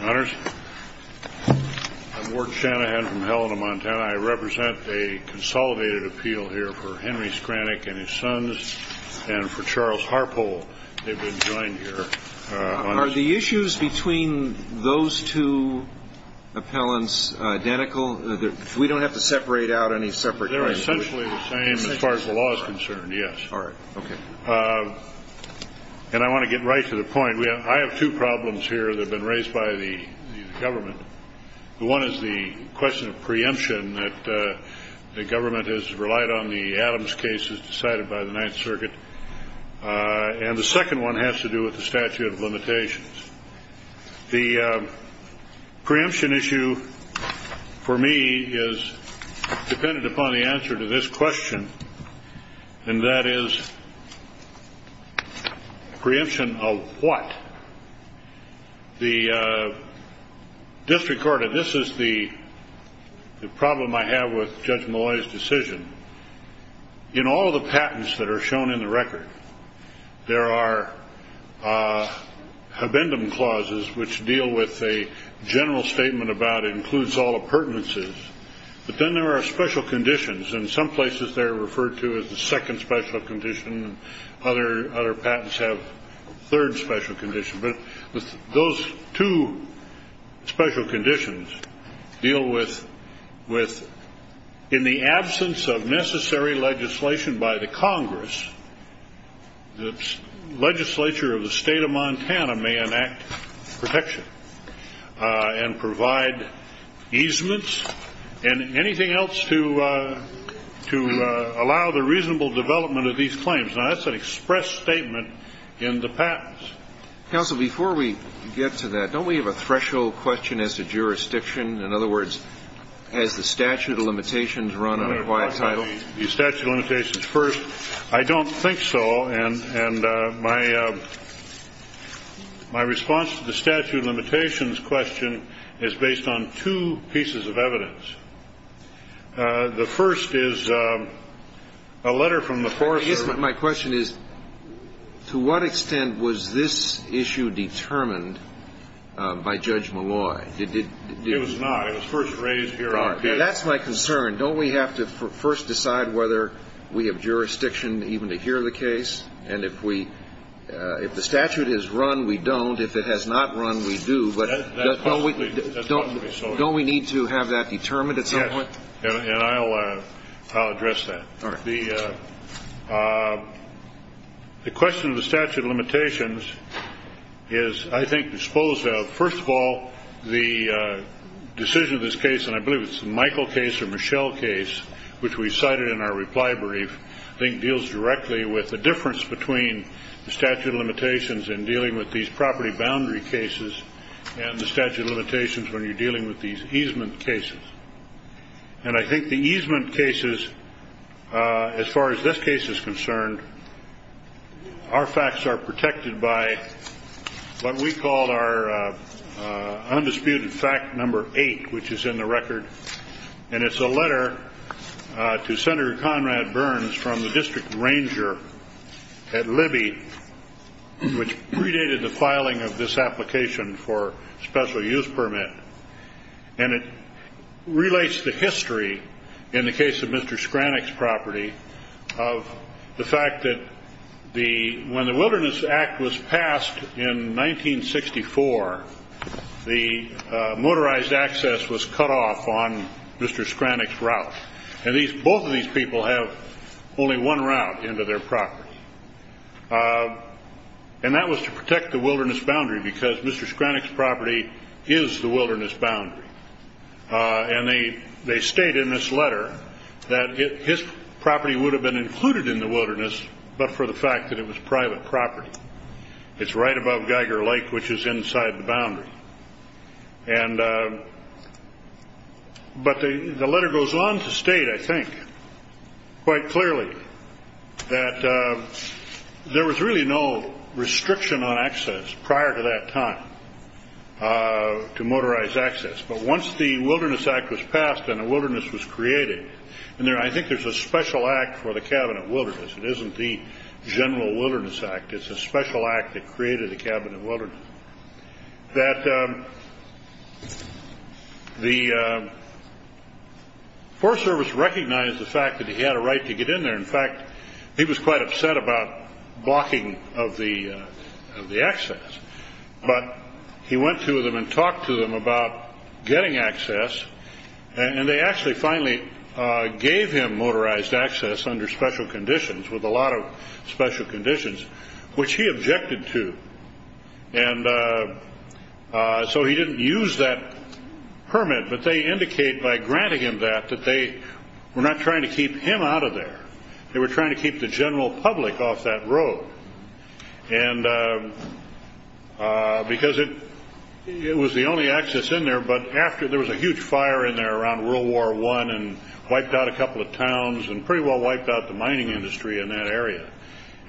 Honors, I'm Ward Shanahan from Helena, Montana. I represent a consolidated appeal here for Henry Skranak and his sons, and for Charles Harpole. They've been joined here on this issue. Are the issues between those two appellants identical? We don't have to separate out any separate cases? They're essentially the same as far as the law is concerned, yes. All right. Okay. And I want to get right to the point. I have two problems here that have been raised by the government. The one is the question of preemption that the government has relied on the Adams case as decided by the Ninth Circuit. And the second one has to do with the statute of limitations. The preemption issue for me is dependent upon the answer to this question, and that is preemption of what? The district court, and this is the problem I have with Judge Malloy's decision. In all of the patents that are shown in the record, there are habendum clauses which deal with a general statement about it includes all appurtenances, but then there are special conditions. In some places, they're referred to as the second special condition. Other patents have a third special condition. But those two special conditions deal with in the absence of necessary legislation by the Congress, the legislature of the state of Montana may enact protection and provide easements and anything else to allow the reasonable development of these claims. Now, that's an express statement in the patents. Counsel, before we get to that, don't we have a threshold question as to jurisdiction? In other words, has the statute of limitations run on a quiet title? The statute of limitations first. I don't think so. And my response to the statute of limitations question is based on two pieces of evidence. The first is a letter from the foreman. My question is, to what extent was this issue determined by Judge Malloy? It was not. It was first raised here on the case. That's my concern. Don't we have to first decide whether we have jurisdiction even to hear the case? And if the statute has run, we don't. If it has not run, we do. But don't we need to have that determined at some point? And I'll address that. The question of the statute of limitations is, I think, disposed of. First of all, the decision of this case, and I believe it's the Michael case or Michelle case, which we cited in our reply brief, I think deals directly with the difference between the statute of limitations in dealing with these property boundary cases and the statute of limitations when you're dealing with these easement cases. And I think the easement cases, as far as this case is concerned, our facts are protected by what we call our undisputed fact number eight, which is in the record. And it's a letter to Senator Conrad Burns from the district ranger at Libby, which predated the filing of this application for special use permit. And it relates to history in the case of Mr. Skranek's property of the fact that when the Wilderness Act was passed in 1964, the motorized access was cut off on Mr. Skranek's route. And both of these people have only one route into their property. And that was to protect the wilderness boundary because Mr. Skranek's property is the wilderness boundary. And they state in this letter that his property would have been included in the wilderness but for the fact that it was private property. It's right above Geiger Lake, which is inside the boundary. But the letter goes on to state, I think, quite clearly that there was really no restriction on access prior to that time to motorized access. But once the Wilderness Act was passed and the wilderness was created, and I think there's a special act for the Cabinet of Wilderness. It isn't the General Wilderness Act. It's a special act that created the Cabinet of Wilderness. That the Forest Service recognized the fact that he had a right to get in there. In fact, he was quite upset about blocking of the access. But he went to them and talked to them about getting access. And they actually finally gave him motorized access under special conditions, with a lot of special conditions, which he objected to. And so he didn't use that permit. But they indicate by granting him that, that they were not trying to keep him out of there. They were trying to keep the general public off that road. And because it was the only access in there. But after, there was a huge fire in there around World War I and wiped out a couple of towns and pretty well wiped out the mining industry in that area.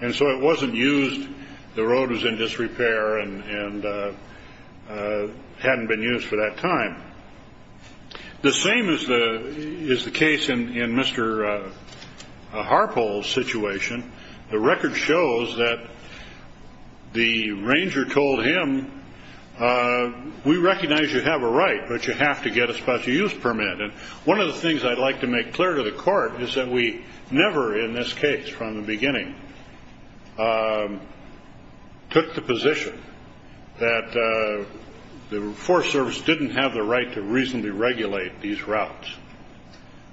And so it wasn't used. The road was in disrepair and hadn't been used for that time. The same is the case in Mr. Harpole's situation. The record shows that the ranger told him, we recognize you have a right, but you have to get a special use permit. And one of the things I'd like to make clear to the court is that we never in this case from the beginning took the position that the Forest Service didn't have the right to reasonably regulate these routes.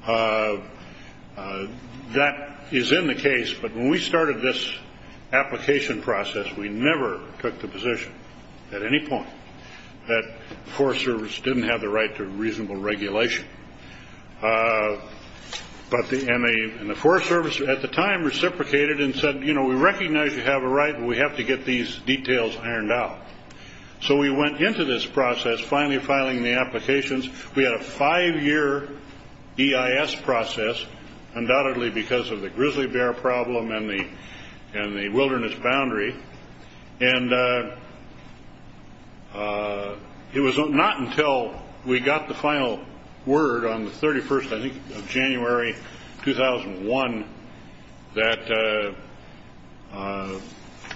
That is in the case, but when we started this application process, we never took the But the, and the Forest Service at the time reciprocated and said, you know, we recognize you have a right, but we have to get these details ironed out. So we went into this process finally filing the applications. We had a five-year EIS process, undoubtedly because of the grizzly bear problem and the wilderness boundary. And it was not until we got the January 2001 that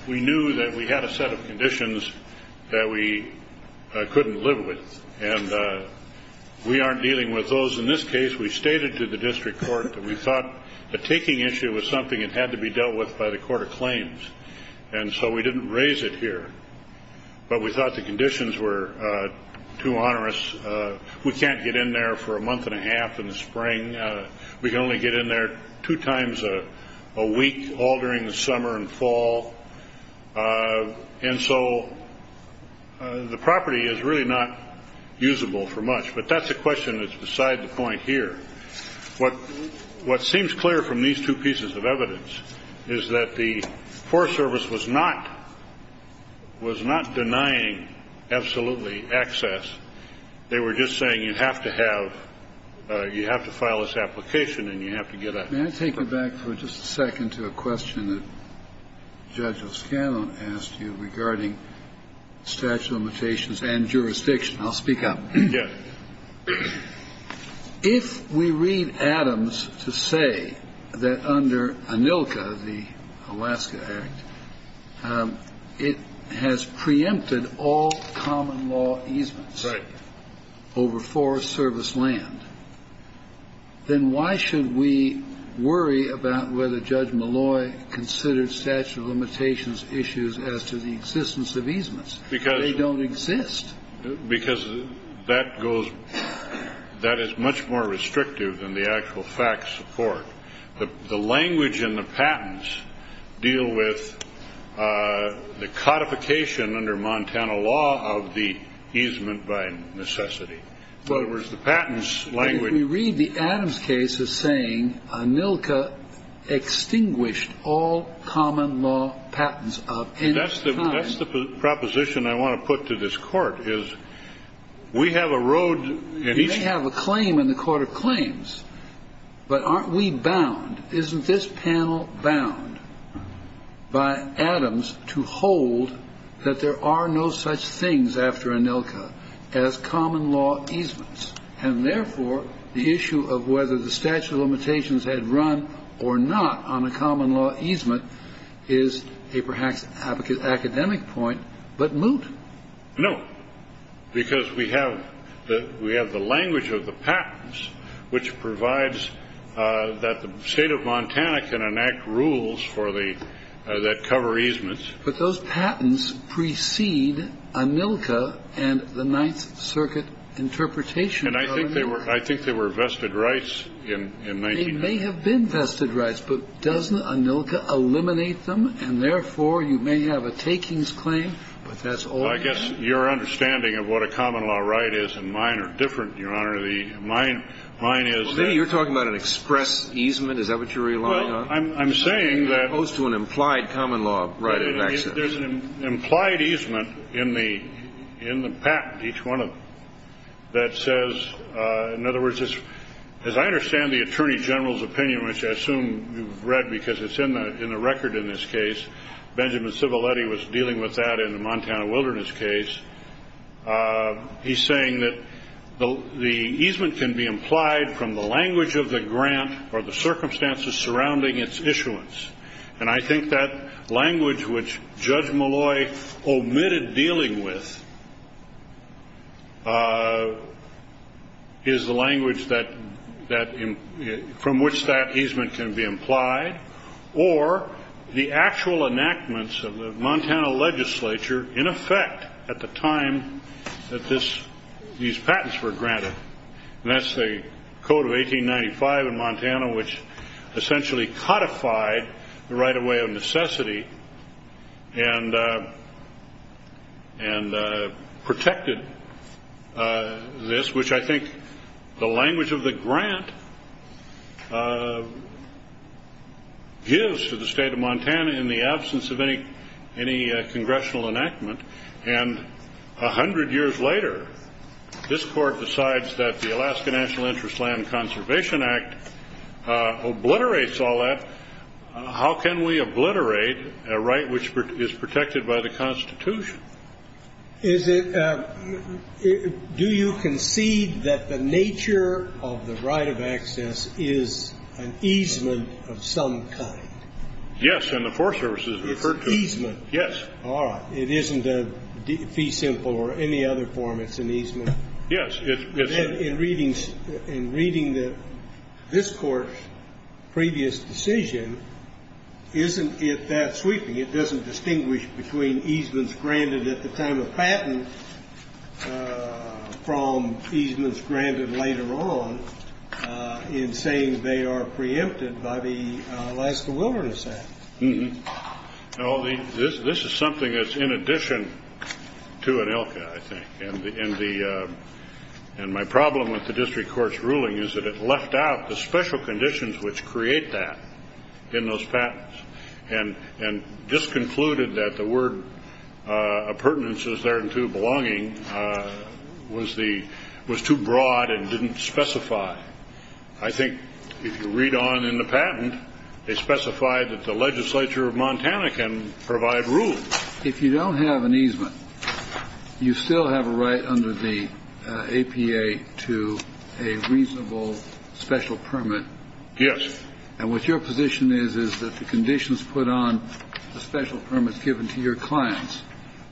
we knew that we had a set of conditions that we couldn't live with. And we aren't dealing with those in this case. We stated to the district court that we thought the taking issue was something that had to be dealt with by the court of claims. And so we didn't raise it here. But we thought the conditions were too onerous. We can't get in there for a month and a half in the spring. We can only get in there two times a week, all during the summer and fall. And so the property is really not usable for much. But that's a question that's beside the point here. What seems clear from these two pieces of evidence is that the Forest Service was not denying absolutely access. They were just saying you have to have you have to file this application and you have to get a Can I take you back for just a second to a question that Judge O'Scanlan asked you regarding statute of limitations and jurisdiction. I'll speak up. Yes. If we read Adams to say that under ANILCA, the Alaska Act, it has preempted all common law easements over Forest Service land, then why should we worry about whether Judge Malloy considered statute of limitations issues as to the existence of easements? They don't exist. Because that goes that is much more restrictive than the actual fact support. The language and the patents deal with the codification under Montana law of the easement by necessity. But if we read the Adams case as saying ANILCA extinguished all common law patents of any kind. That's the proposition I want to put to this court is we have a road. You may have a claim in the court of claims, but aren't we bound? Isn't this panel bound by Adams to hold that there are no such things after ANILCA as common law easements? And therefore, the issue of whether the statute of limitations had run or not on a common law easement is a perhaps academic point, but moot. No, because we have the we have the language of the patents, which provides that the state of Montana can enact rules for the that cover easements. But those patents precede ANILCA and the Ninth Circuit interpretation. And I think they were I think they were vested rights in 1990. They may have been vested rights, but doesn't ANILCA eliminate them? And therefore, you may have a takings claim, but that's all. I guess your understanding of what a common law right is and mine are different, Your Honor. The mine mine is that you're talking about an express easement. Is that what you're relying on? I'm saying that opposed to an implied common law right of access, there's an implied easement in the in the patent, each one of that says, in other words, as I understand the attorney general's opinion, which I assume you've read because it's in the in the record in this case, Benjamin Civiletti was dealing with that in the Montana Wilderness case. He's saying that the the easement can be implied from the language of the grant or the circumstances surrounding its issuance. And I think that language which Judge Malloy omitted dealing with is the language that that from which that easement can be implied or the actual enactments of the Montana legislature in effect at the time that this these patents were granted. And that's the code of 1895 in Montana, which essentially codified the right of way of necessity and and protected this, which I think the language of the grant gives to the state of Montana in the absence of any any congressional enactment. And 100 years later, this court decides that the Alaska National Interest Land Conservation Act obliterates all that. How can we obliterate a right which is protected by the Constitution? Is it? Do you concede that the nature of the right of access is an easement of some kind? Yes. And the Forest Service is referred to as easement. Yes. All right. It's an easement. Yes, it's in readings and reading that this court's previous decision, isn't it that sweeping? It doesn't distinguish between easements granted at the time of patent from easements granted later on in saying they are preempted by the Alaska Wilderness Act. No, this is something that's in addition to an ILCA, I think, and the and the and my problem with the district court's ruling is that it left out the special conditions which create that in those patents and and just concluded that the word of pertinences therein to belonging was the was too broad and didn't specify. I think if you read on in the patent, they specified that the legislature of Montana can provide rules. If you don't have an easement, you still have a right under the APA to a reasonable special permit. Yes. And what your position is, is that the conditions put on the special permits given to your clients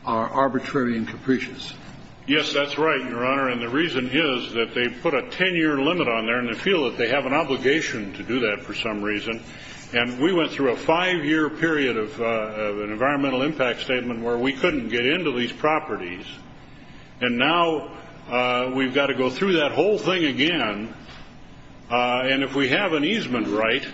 are arbitrary and capricious. Yes, that's right, Your Honor. And the reason is that they put a 10-year limit on there and they feel that they have an obligation to do that for some reason. And we went through a five-year period of an environmental impact statement where we couldn't get into these properties. And now we've got to go through that whole thing again. And if we have an easement right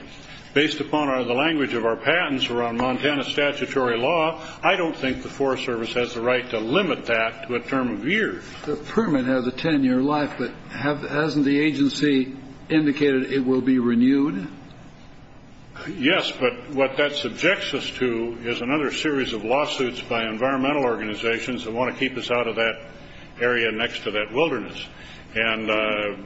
based upon the language of our patents around Montana statutory law, I don't think the Forest Service has the right to limit that to a term of years. The permit has a 10-year life, but hasn't the agency indicated it will be renewed? Yes, but what that subjects us to is another series of lawsuits by environmental organizations that want to keep us out of that area next to that wilderness. And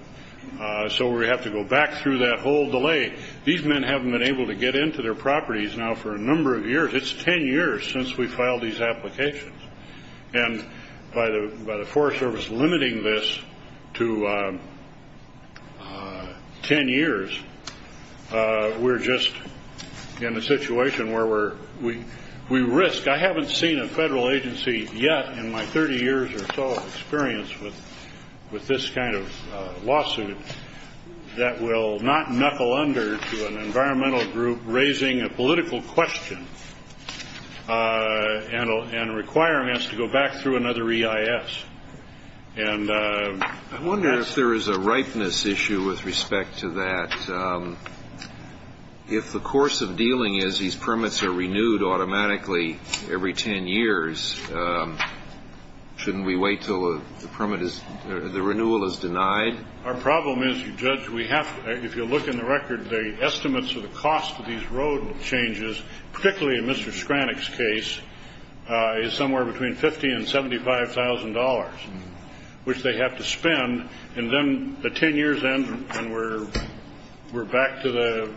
so we have to go back through that whole delay. These men haven't been able to get into their properties now for a number of years. It's 10 years since we filed these applications. And by the Forest Service limiting this to 10 years, we're just in a situation where we risk. I haven't seen a federal agency yet in my 30 years or so of experience with this kind of lawsuit that will not knuckle under to an environmental group raising a political question and requiring us to go back through another EIS. I wonder if there is a ripeness issue with respect to that. If the course of dealing is these permits are renewed automatically every 10 years, shouldn't we wait until the renewal is denied? Our problem is, Judge, if you look in the record, the estimates of the cost of these road changes, particularly in Mr. Skranick's case, is somewhere between $50,000 and $75,000, which they have to spend. And then the 10 years end and we're back to the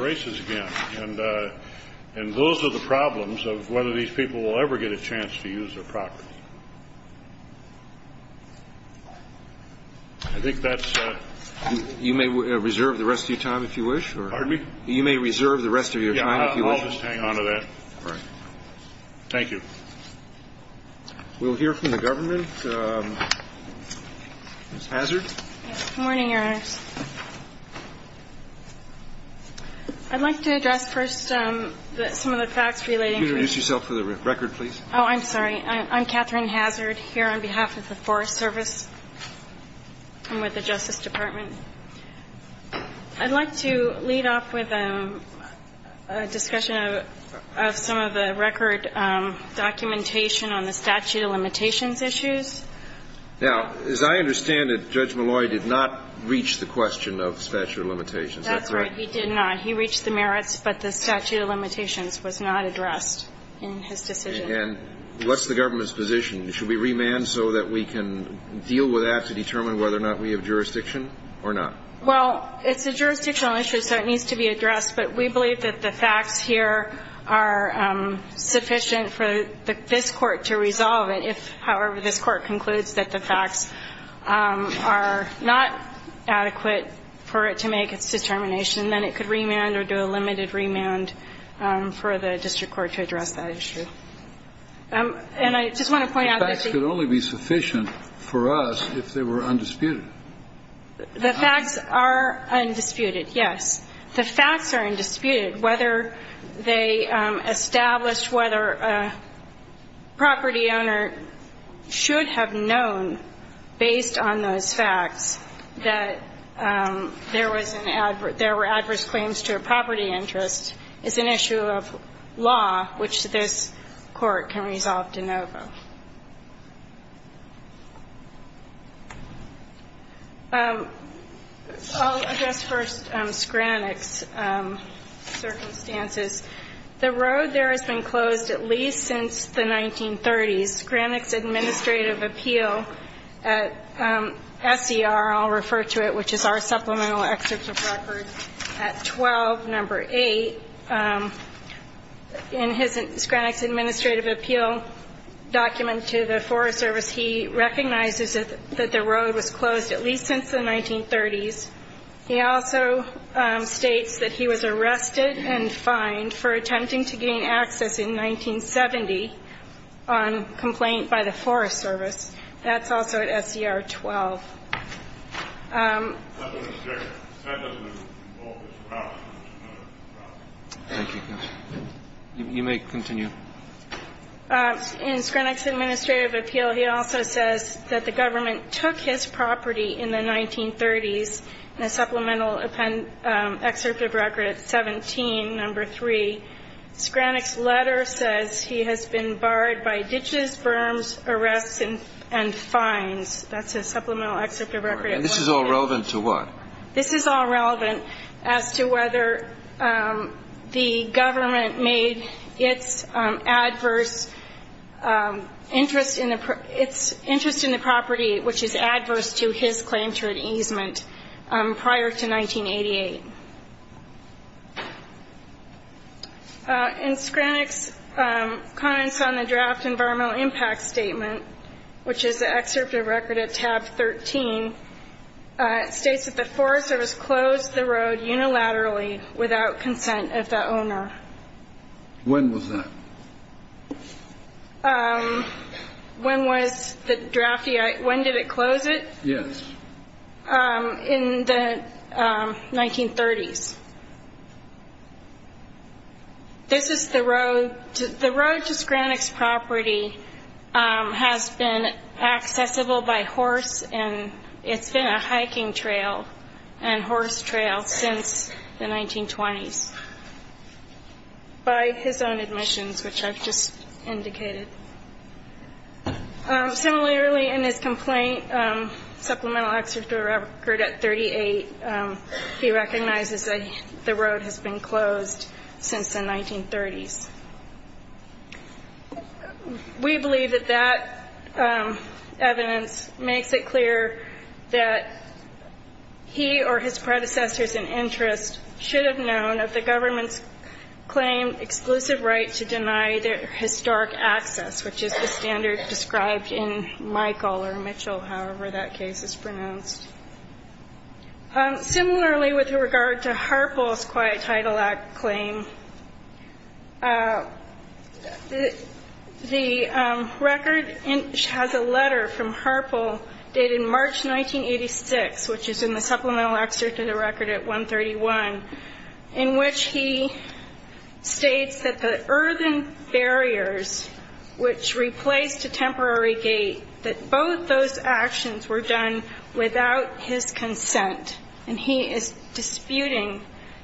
races again. And those are the problems of whether these people will ever get a chance to use their property. I think that's it. You may reserve the rest of your time if you wish. Pardon me? You may reserve the rest of your time if you wish. I'll just hang on to that. All right. Thank you. We'll hear from the government. Ms. Hazard? Good morning, Your Honors. I'd like to address first some of the facts relating to the case. Could you introduce yourself for the record, please? Oh, I'm sorry. I'm Katherine Hazard here on behalf of the Forest Service and with the Justice Department. I'd like to lead off with a discussion of some of the record documentation on the statute of limitations issues. Now, as I understand it, Judge Malloy did not reach the question of statute of limitations. Is that correct? That's right. He did not. He reached the merits, but the statute of limitations was not addressed in his decision. And what's the government's position? Should we remand so that we can deal with that to determine whether or not we have jurisdiction or not? Well, I don't have the facts, but we believe that the facts here are sufficient for this Court to resolve it if, however, this Court concludes that the facts are not adequate for it to make its determination, then it could remand or do a limited remand for the district court to address that issue. And I just want to point out that the facts could only be sufficient for us if they were undisputed. The facts are undisputed, yes. The facts are undisputed. Whether they established whether a property owner should have known, based on those facts, that there were adverse claims to a property interest is an issue of law, which this Court can resolve de novo. I'll address first Skranik's circumstances. The road there has been closed at least since the 1930s. Skranik's administrative appeal at SCR, I'll refer to it, which is our supplemental excerpt of record at 12, number 8. In Skranik's administrative appeal document to the Forest Service, he recognizes that the road was closed at least since the 1930s. He also states that he was arrested and fined for attempting to gain access in 1970 on complaint by the Forest Service. That's also at SCR 12. Thank you. You may continue. In Skranik's administrative appeal, he also says that the government took his property in the 1930s in a supplemental excerpt of record at 17, number 3. Skranik's letter says he has been barred by ditches, berms, arrests, and fines. That's a supplemental excerpt of record at 17. And this is all relevant to what? This is all relevant as to whether the government made its adverse interest in the property, which is adverse to his claim to an easement, prior to 1988. In Skranik's comments on the draft environmental impact statement, which is the excerpt of record at tab 13, it states that the Forest Service closed the road unilaterally without consent of the owner. When was that? When was the draft? When did it close it? Yes. In the 1930s. This is the road. The road to Skranik's property has been accessible by horse, and it's been a hiking trail and horse trail since the 1920s by his own admissions, which I've just indicated. Similarly, in his complaint, supplemental excerpt of record at 38, he recognizes that the road has been closed since the 1930s. We believe that that evidence makes it clear that he or his predecessors in interest should have known of the government's claim exclusive right to deny their historic access, which is the standard described in Michael or Mitchell, however that case is pronounced. Similarly, with regard to Harpel's Quiet Title Act claim, the record has a letter from Harpel dated March 1986, which is in the supplemental excerpt of the record at 131, in which he states that the earthen barriers, which replaced a temporary gate, that both those actions were done without his consent, and he is disputing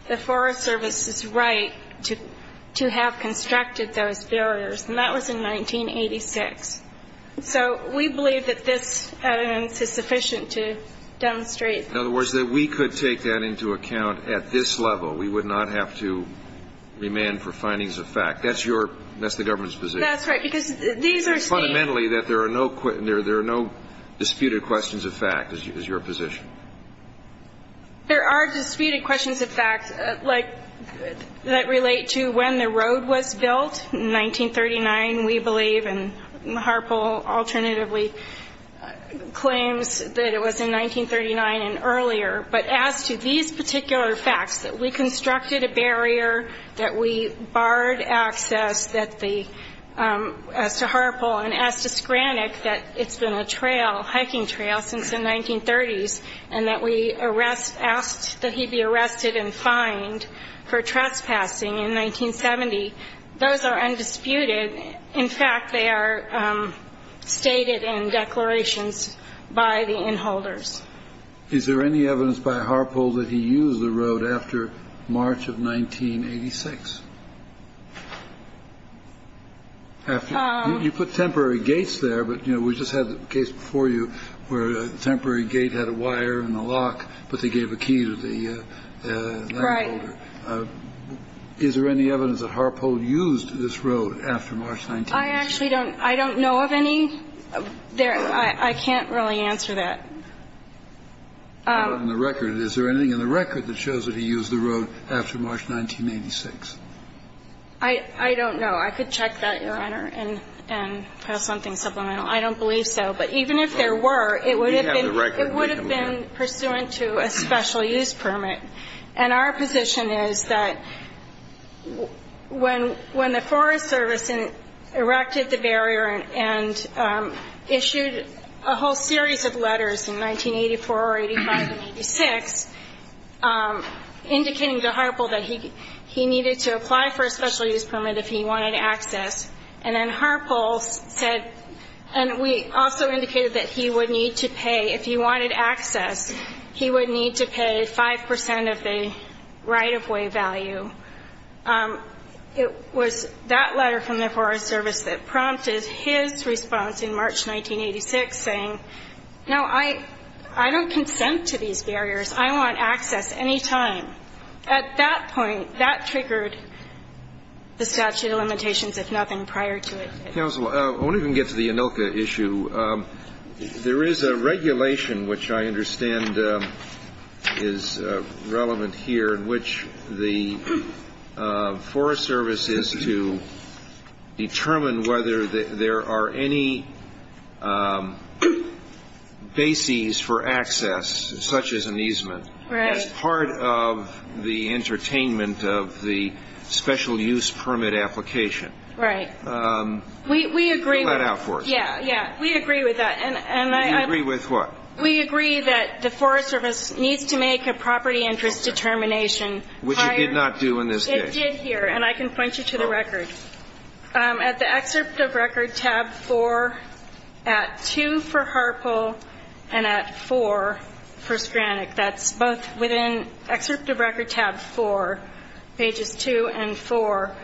the Forest Service's right to have constructed those barriers, and that was in 1986. So we believe that this evidence is sufficient to demonstrate that. In other words, that we could take that into account at this level. We would not have to remand for findings of fact. That's the government's position. That's right, because these are states. Fundamentally, that there are no disputed questions of fact is your position. There are disputed questions of fact that relate to when the road was built. In 1939, we believe, and Harpel alternatively claims that it was in 1939 and earlier, but as to these particular facts, that we constructed a barrier, that we barred access, as to Harpel and as to Skranek, that it's been a trail, a hiking trail, since the 1930s, and that we asked that he be arrested and fined for trespassing in 1970. Those are undisputed. In fact, they are stated in declarations by the inholders. Is there any evidence by Harpel that he used the road after March of 1986? You put temporary gates there, but, you know, we just had the case before you where a temporary gate had a wire and a lock, but they gave a key to the inholder. Right. Is there any evidence that Harpel used this road after March 1986? I actually don't know of any. I can't really answer that. Is there anything in the record that shows that he used the road after March 1986? I don't know. I could check that, Your Honor, and have something supplemental. I don't believe so. But even if there were, it would have been pursuant to a special use permit. And our position is that when the Forest Service erected the barrier and issued a whole series of letters in 1984, 85, and 86, indicating to Harpel that he needed to apply for a special use permit if he wanted access, and then Harpel said, and we also indicated that he would need to pay, that he would need to pay 5 percent of the right-of-way value. It was that letter from the Forest Service that prompted his response in March 1986, saying, no, I don't consent to these barriers. I want access any time. At that point, that triggered the statute of limitations, if nothing prior to it. Counsel, I wonder if we can get to the ANILCA issue. There is a regulation, which I understand is relevant here, in which the Forest Service is to determine whether there are any bases for access, such as an easement, as part of the entertainment of the special use permit application. Right. We agree with that. We agree with what? We agree that the Forest Service needs to make a property interest determination. Which it did not do in this case. It did here, and I can point you to the record. At the excerpt of record, tab 4, at 2 for Harpel and at 4 for Skranek, that's both within excerpt of record, tab 4, pages 2 and 4,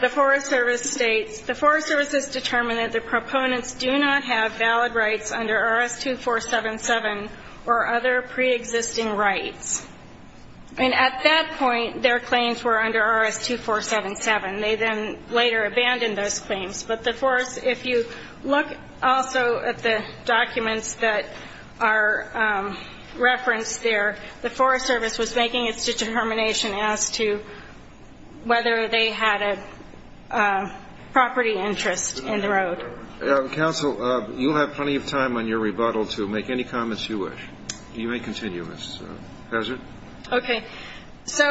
the Forest Service states, the Forest Service is determined that the proponents do not have valid rights under RS-2477 or other preexisting rights. And at that point, their claims were under RS-2477. They then later abandoned those claims. But if you look also at the documents that are referenced there, the Forest Service was making its determination as to whether they had a property interest in the road. Counsel, you'll have plenty of time on your rebuttal to make any comments you wish. You may continue, Ms. Hazard. Okay. So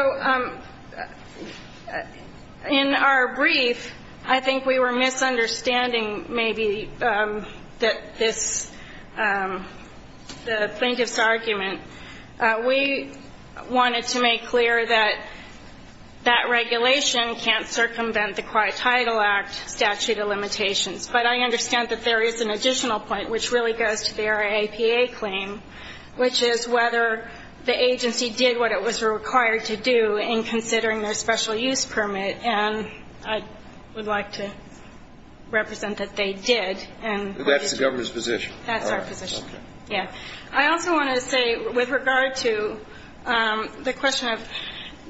in our brief, I think we were misunderstanding maybe that this, the plaintiff's argument. We wanted to make clear that that regulation can't circumvent the Quiet Title Act statute of limitations. But I understand that there is an additional point, which really goes to their APA claim, which is whether the agency did what it was required to do in considering their special use permit. And I would like to represent that they did. That's the government's position. That's our position. Yeah. I also want to say, with regard to the question of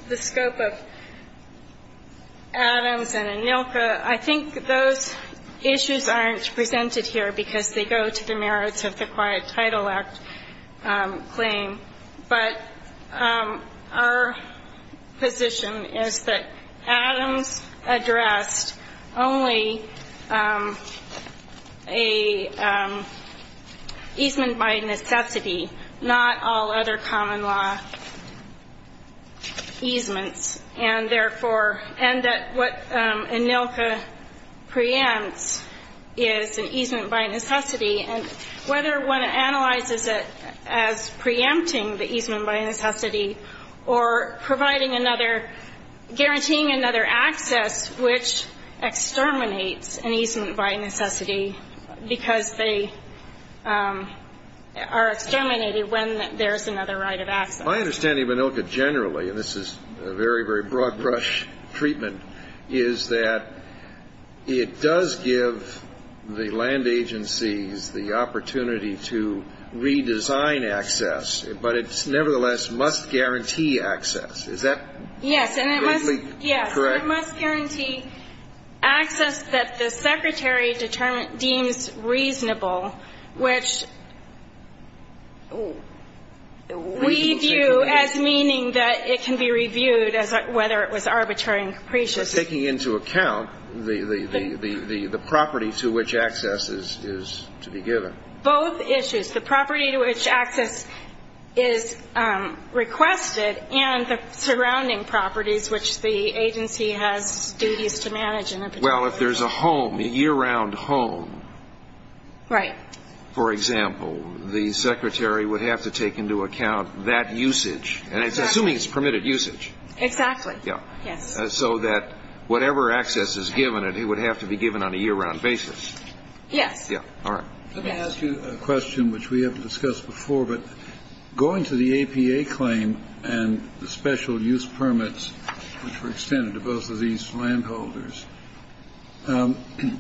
the scope of Adams and Anilka, I think those issues aren't presented here because they go to the merits of the Quiet Title Act claim. But our position is that Adams addressed only a easement by necessity, not all other common law easements. And, therefore, and that what Anilka preempts is an easement by necessity. And whether one analyzes it as preempting the easement by necessity or providing another, guaranteeing another access which exterminates an easement by necessity because they are exterminated when there's another right of access. My understanding of Anilka generally, and this is a very, very broad brush treatment, is that it does give the land agencies the opportunity to redesign access, but it nevertheless must guarantee access. Is that greatly correct? Yes. It must guarantee access that the Secretary deems reasonable, which we view as meaning that it can be reviewed as whether it was arbitrary and capricious. But taking into account the property to which access is to be given. Both issues. The property to which access is requested and the surrounding properties, which the agency has duties to manage. Well, if there's a home, a year-round home. Right. For example, the Secretary would have to take into account that usage, and it's assuming it's permitted usage. Exactly. Yes. So that whatever access is given, it would have to be given on a year-round basis. Yes. All right. Let me ask you a question which we haven't discussed before, but going to the APA claim and the special use permits, which were extended to both of these landholders,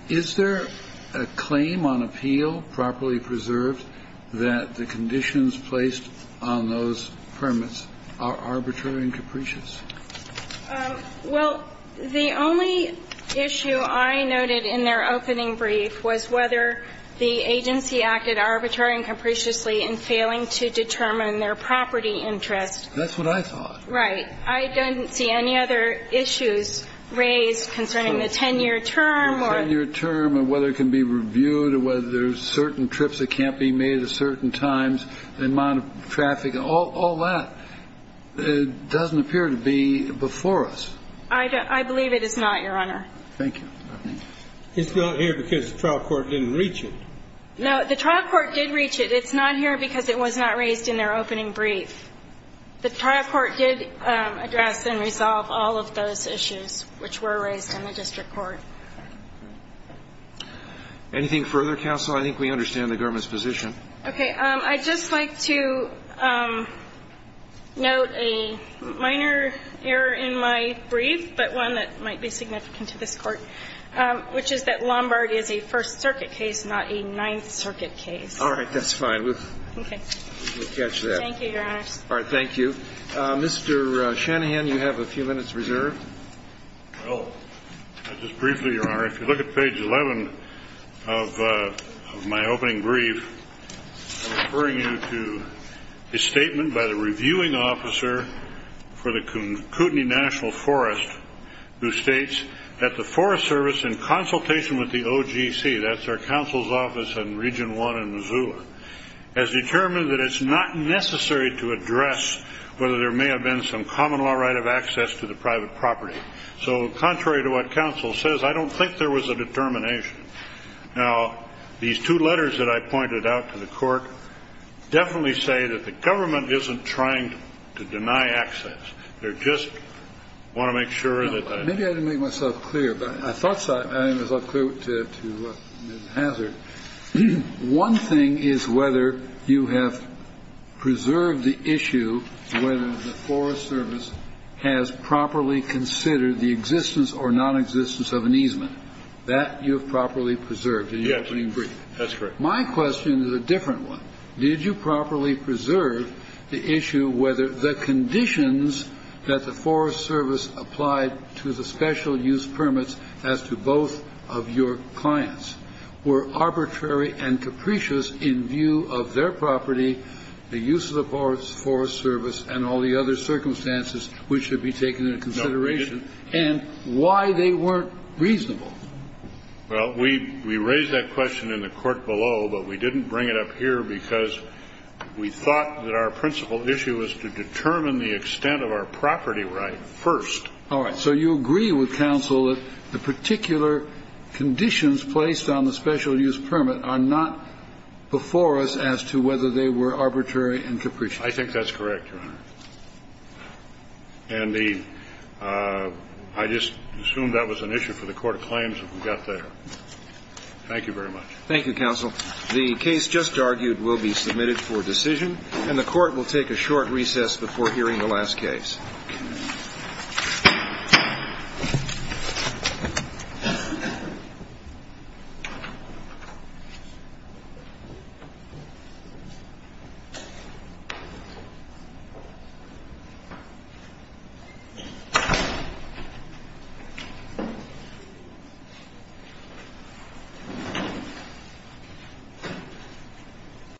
is there a claim on appeal properly preserved that the conditions placed on those permits are arbitrary and capricious? Well, the only issue I noted in their opening brief was whether the agency acted arbitrary and capriciously in failing to determine their property interest. That's what I thought. Right. I didn't see any other issues raised concerning the 10-year term or the 10-year term or whether it can be reviewed or whether there's certain trips that can't be made at certain times, the amount of traffic, all that. It doesn't appear to be before us. I believe it is not, Your Honor. Thank you. It's not here because the trial court didn't reach it. No, the trial court did reach it. It's not here because it was not raised in their opening brief. The trial court did address and resolve all of those issues which were raised in the district court. Anything further, counsel? I think we understand the government's position. Okay. I'd just like to note a minor error in my brief, but one that might be significant to this Court, which is that Lombard is a First Circuit case, not a Ninth Circuit case. All right. That's fine. We'll catch that. Thank you, Your Honor. All right. Thank you. Mr. Shanahan, you have a few minutes reserved. Well, just briefly, Your Honor, if you look at page 11 of my opening brief, I'm referring you to a statement by the reviewing officer for the Kootenai National Forest who states that the Forest Service, in consultation with the OGC, that's our counsel's office in Region 1 in Missoula, has determined that it's not necessary to address whether there may have been some common law right of access to the private property. So contrary to what counsel says, I don't think there was a determination. Now, these two letters that I pointed out to the Court definitely say that the government isn't trying to deny access. They're just want to make sure that the ---- Maybe I didn't make myself clear, but I thought I made myself clear to Mr. Hazard. One thing is whether you have preserved the issue whether the Forest Service has properly considered the existence or nonexistence of an easement. That you have properly preserved in your opening brief. Yes. That's correct. My question is a different one. Did you properly preserve the issue whether the conditions that the Forest Service applied to the special use permits as to both of your clients were arbitrary and capricious in view of their property, the use of the Forest Service and all the other circumstances which should be taken into consideration, and why they weren't reasonable? Well, we raised that question in the court below, but we didn't bring it up here because we thought that our principal issue was to determine the extent of our property right first. All right. So you agree with counsel that the particular conditions placed on the special use permit are not before us as to whether they were arbitrary and capricious. I think that's correct, Your Honor. And I just assumed that was an issue for the court of claims that we got there. Thank you very much. Thank you, counsel. The case just argued will be submitted for decision, and the Court will take a short recess before hearing the last case. Thank you.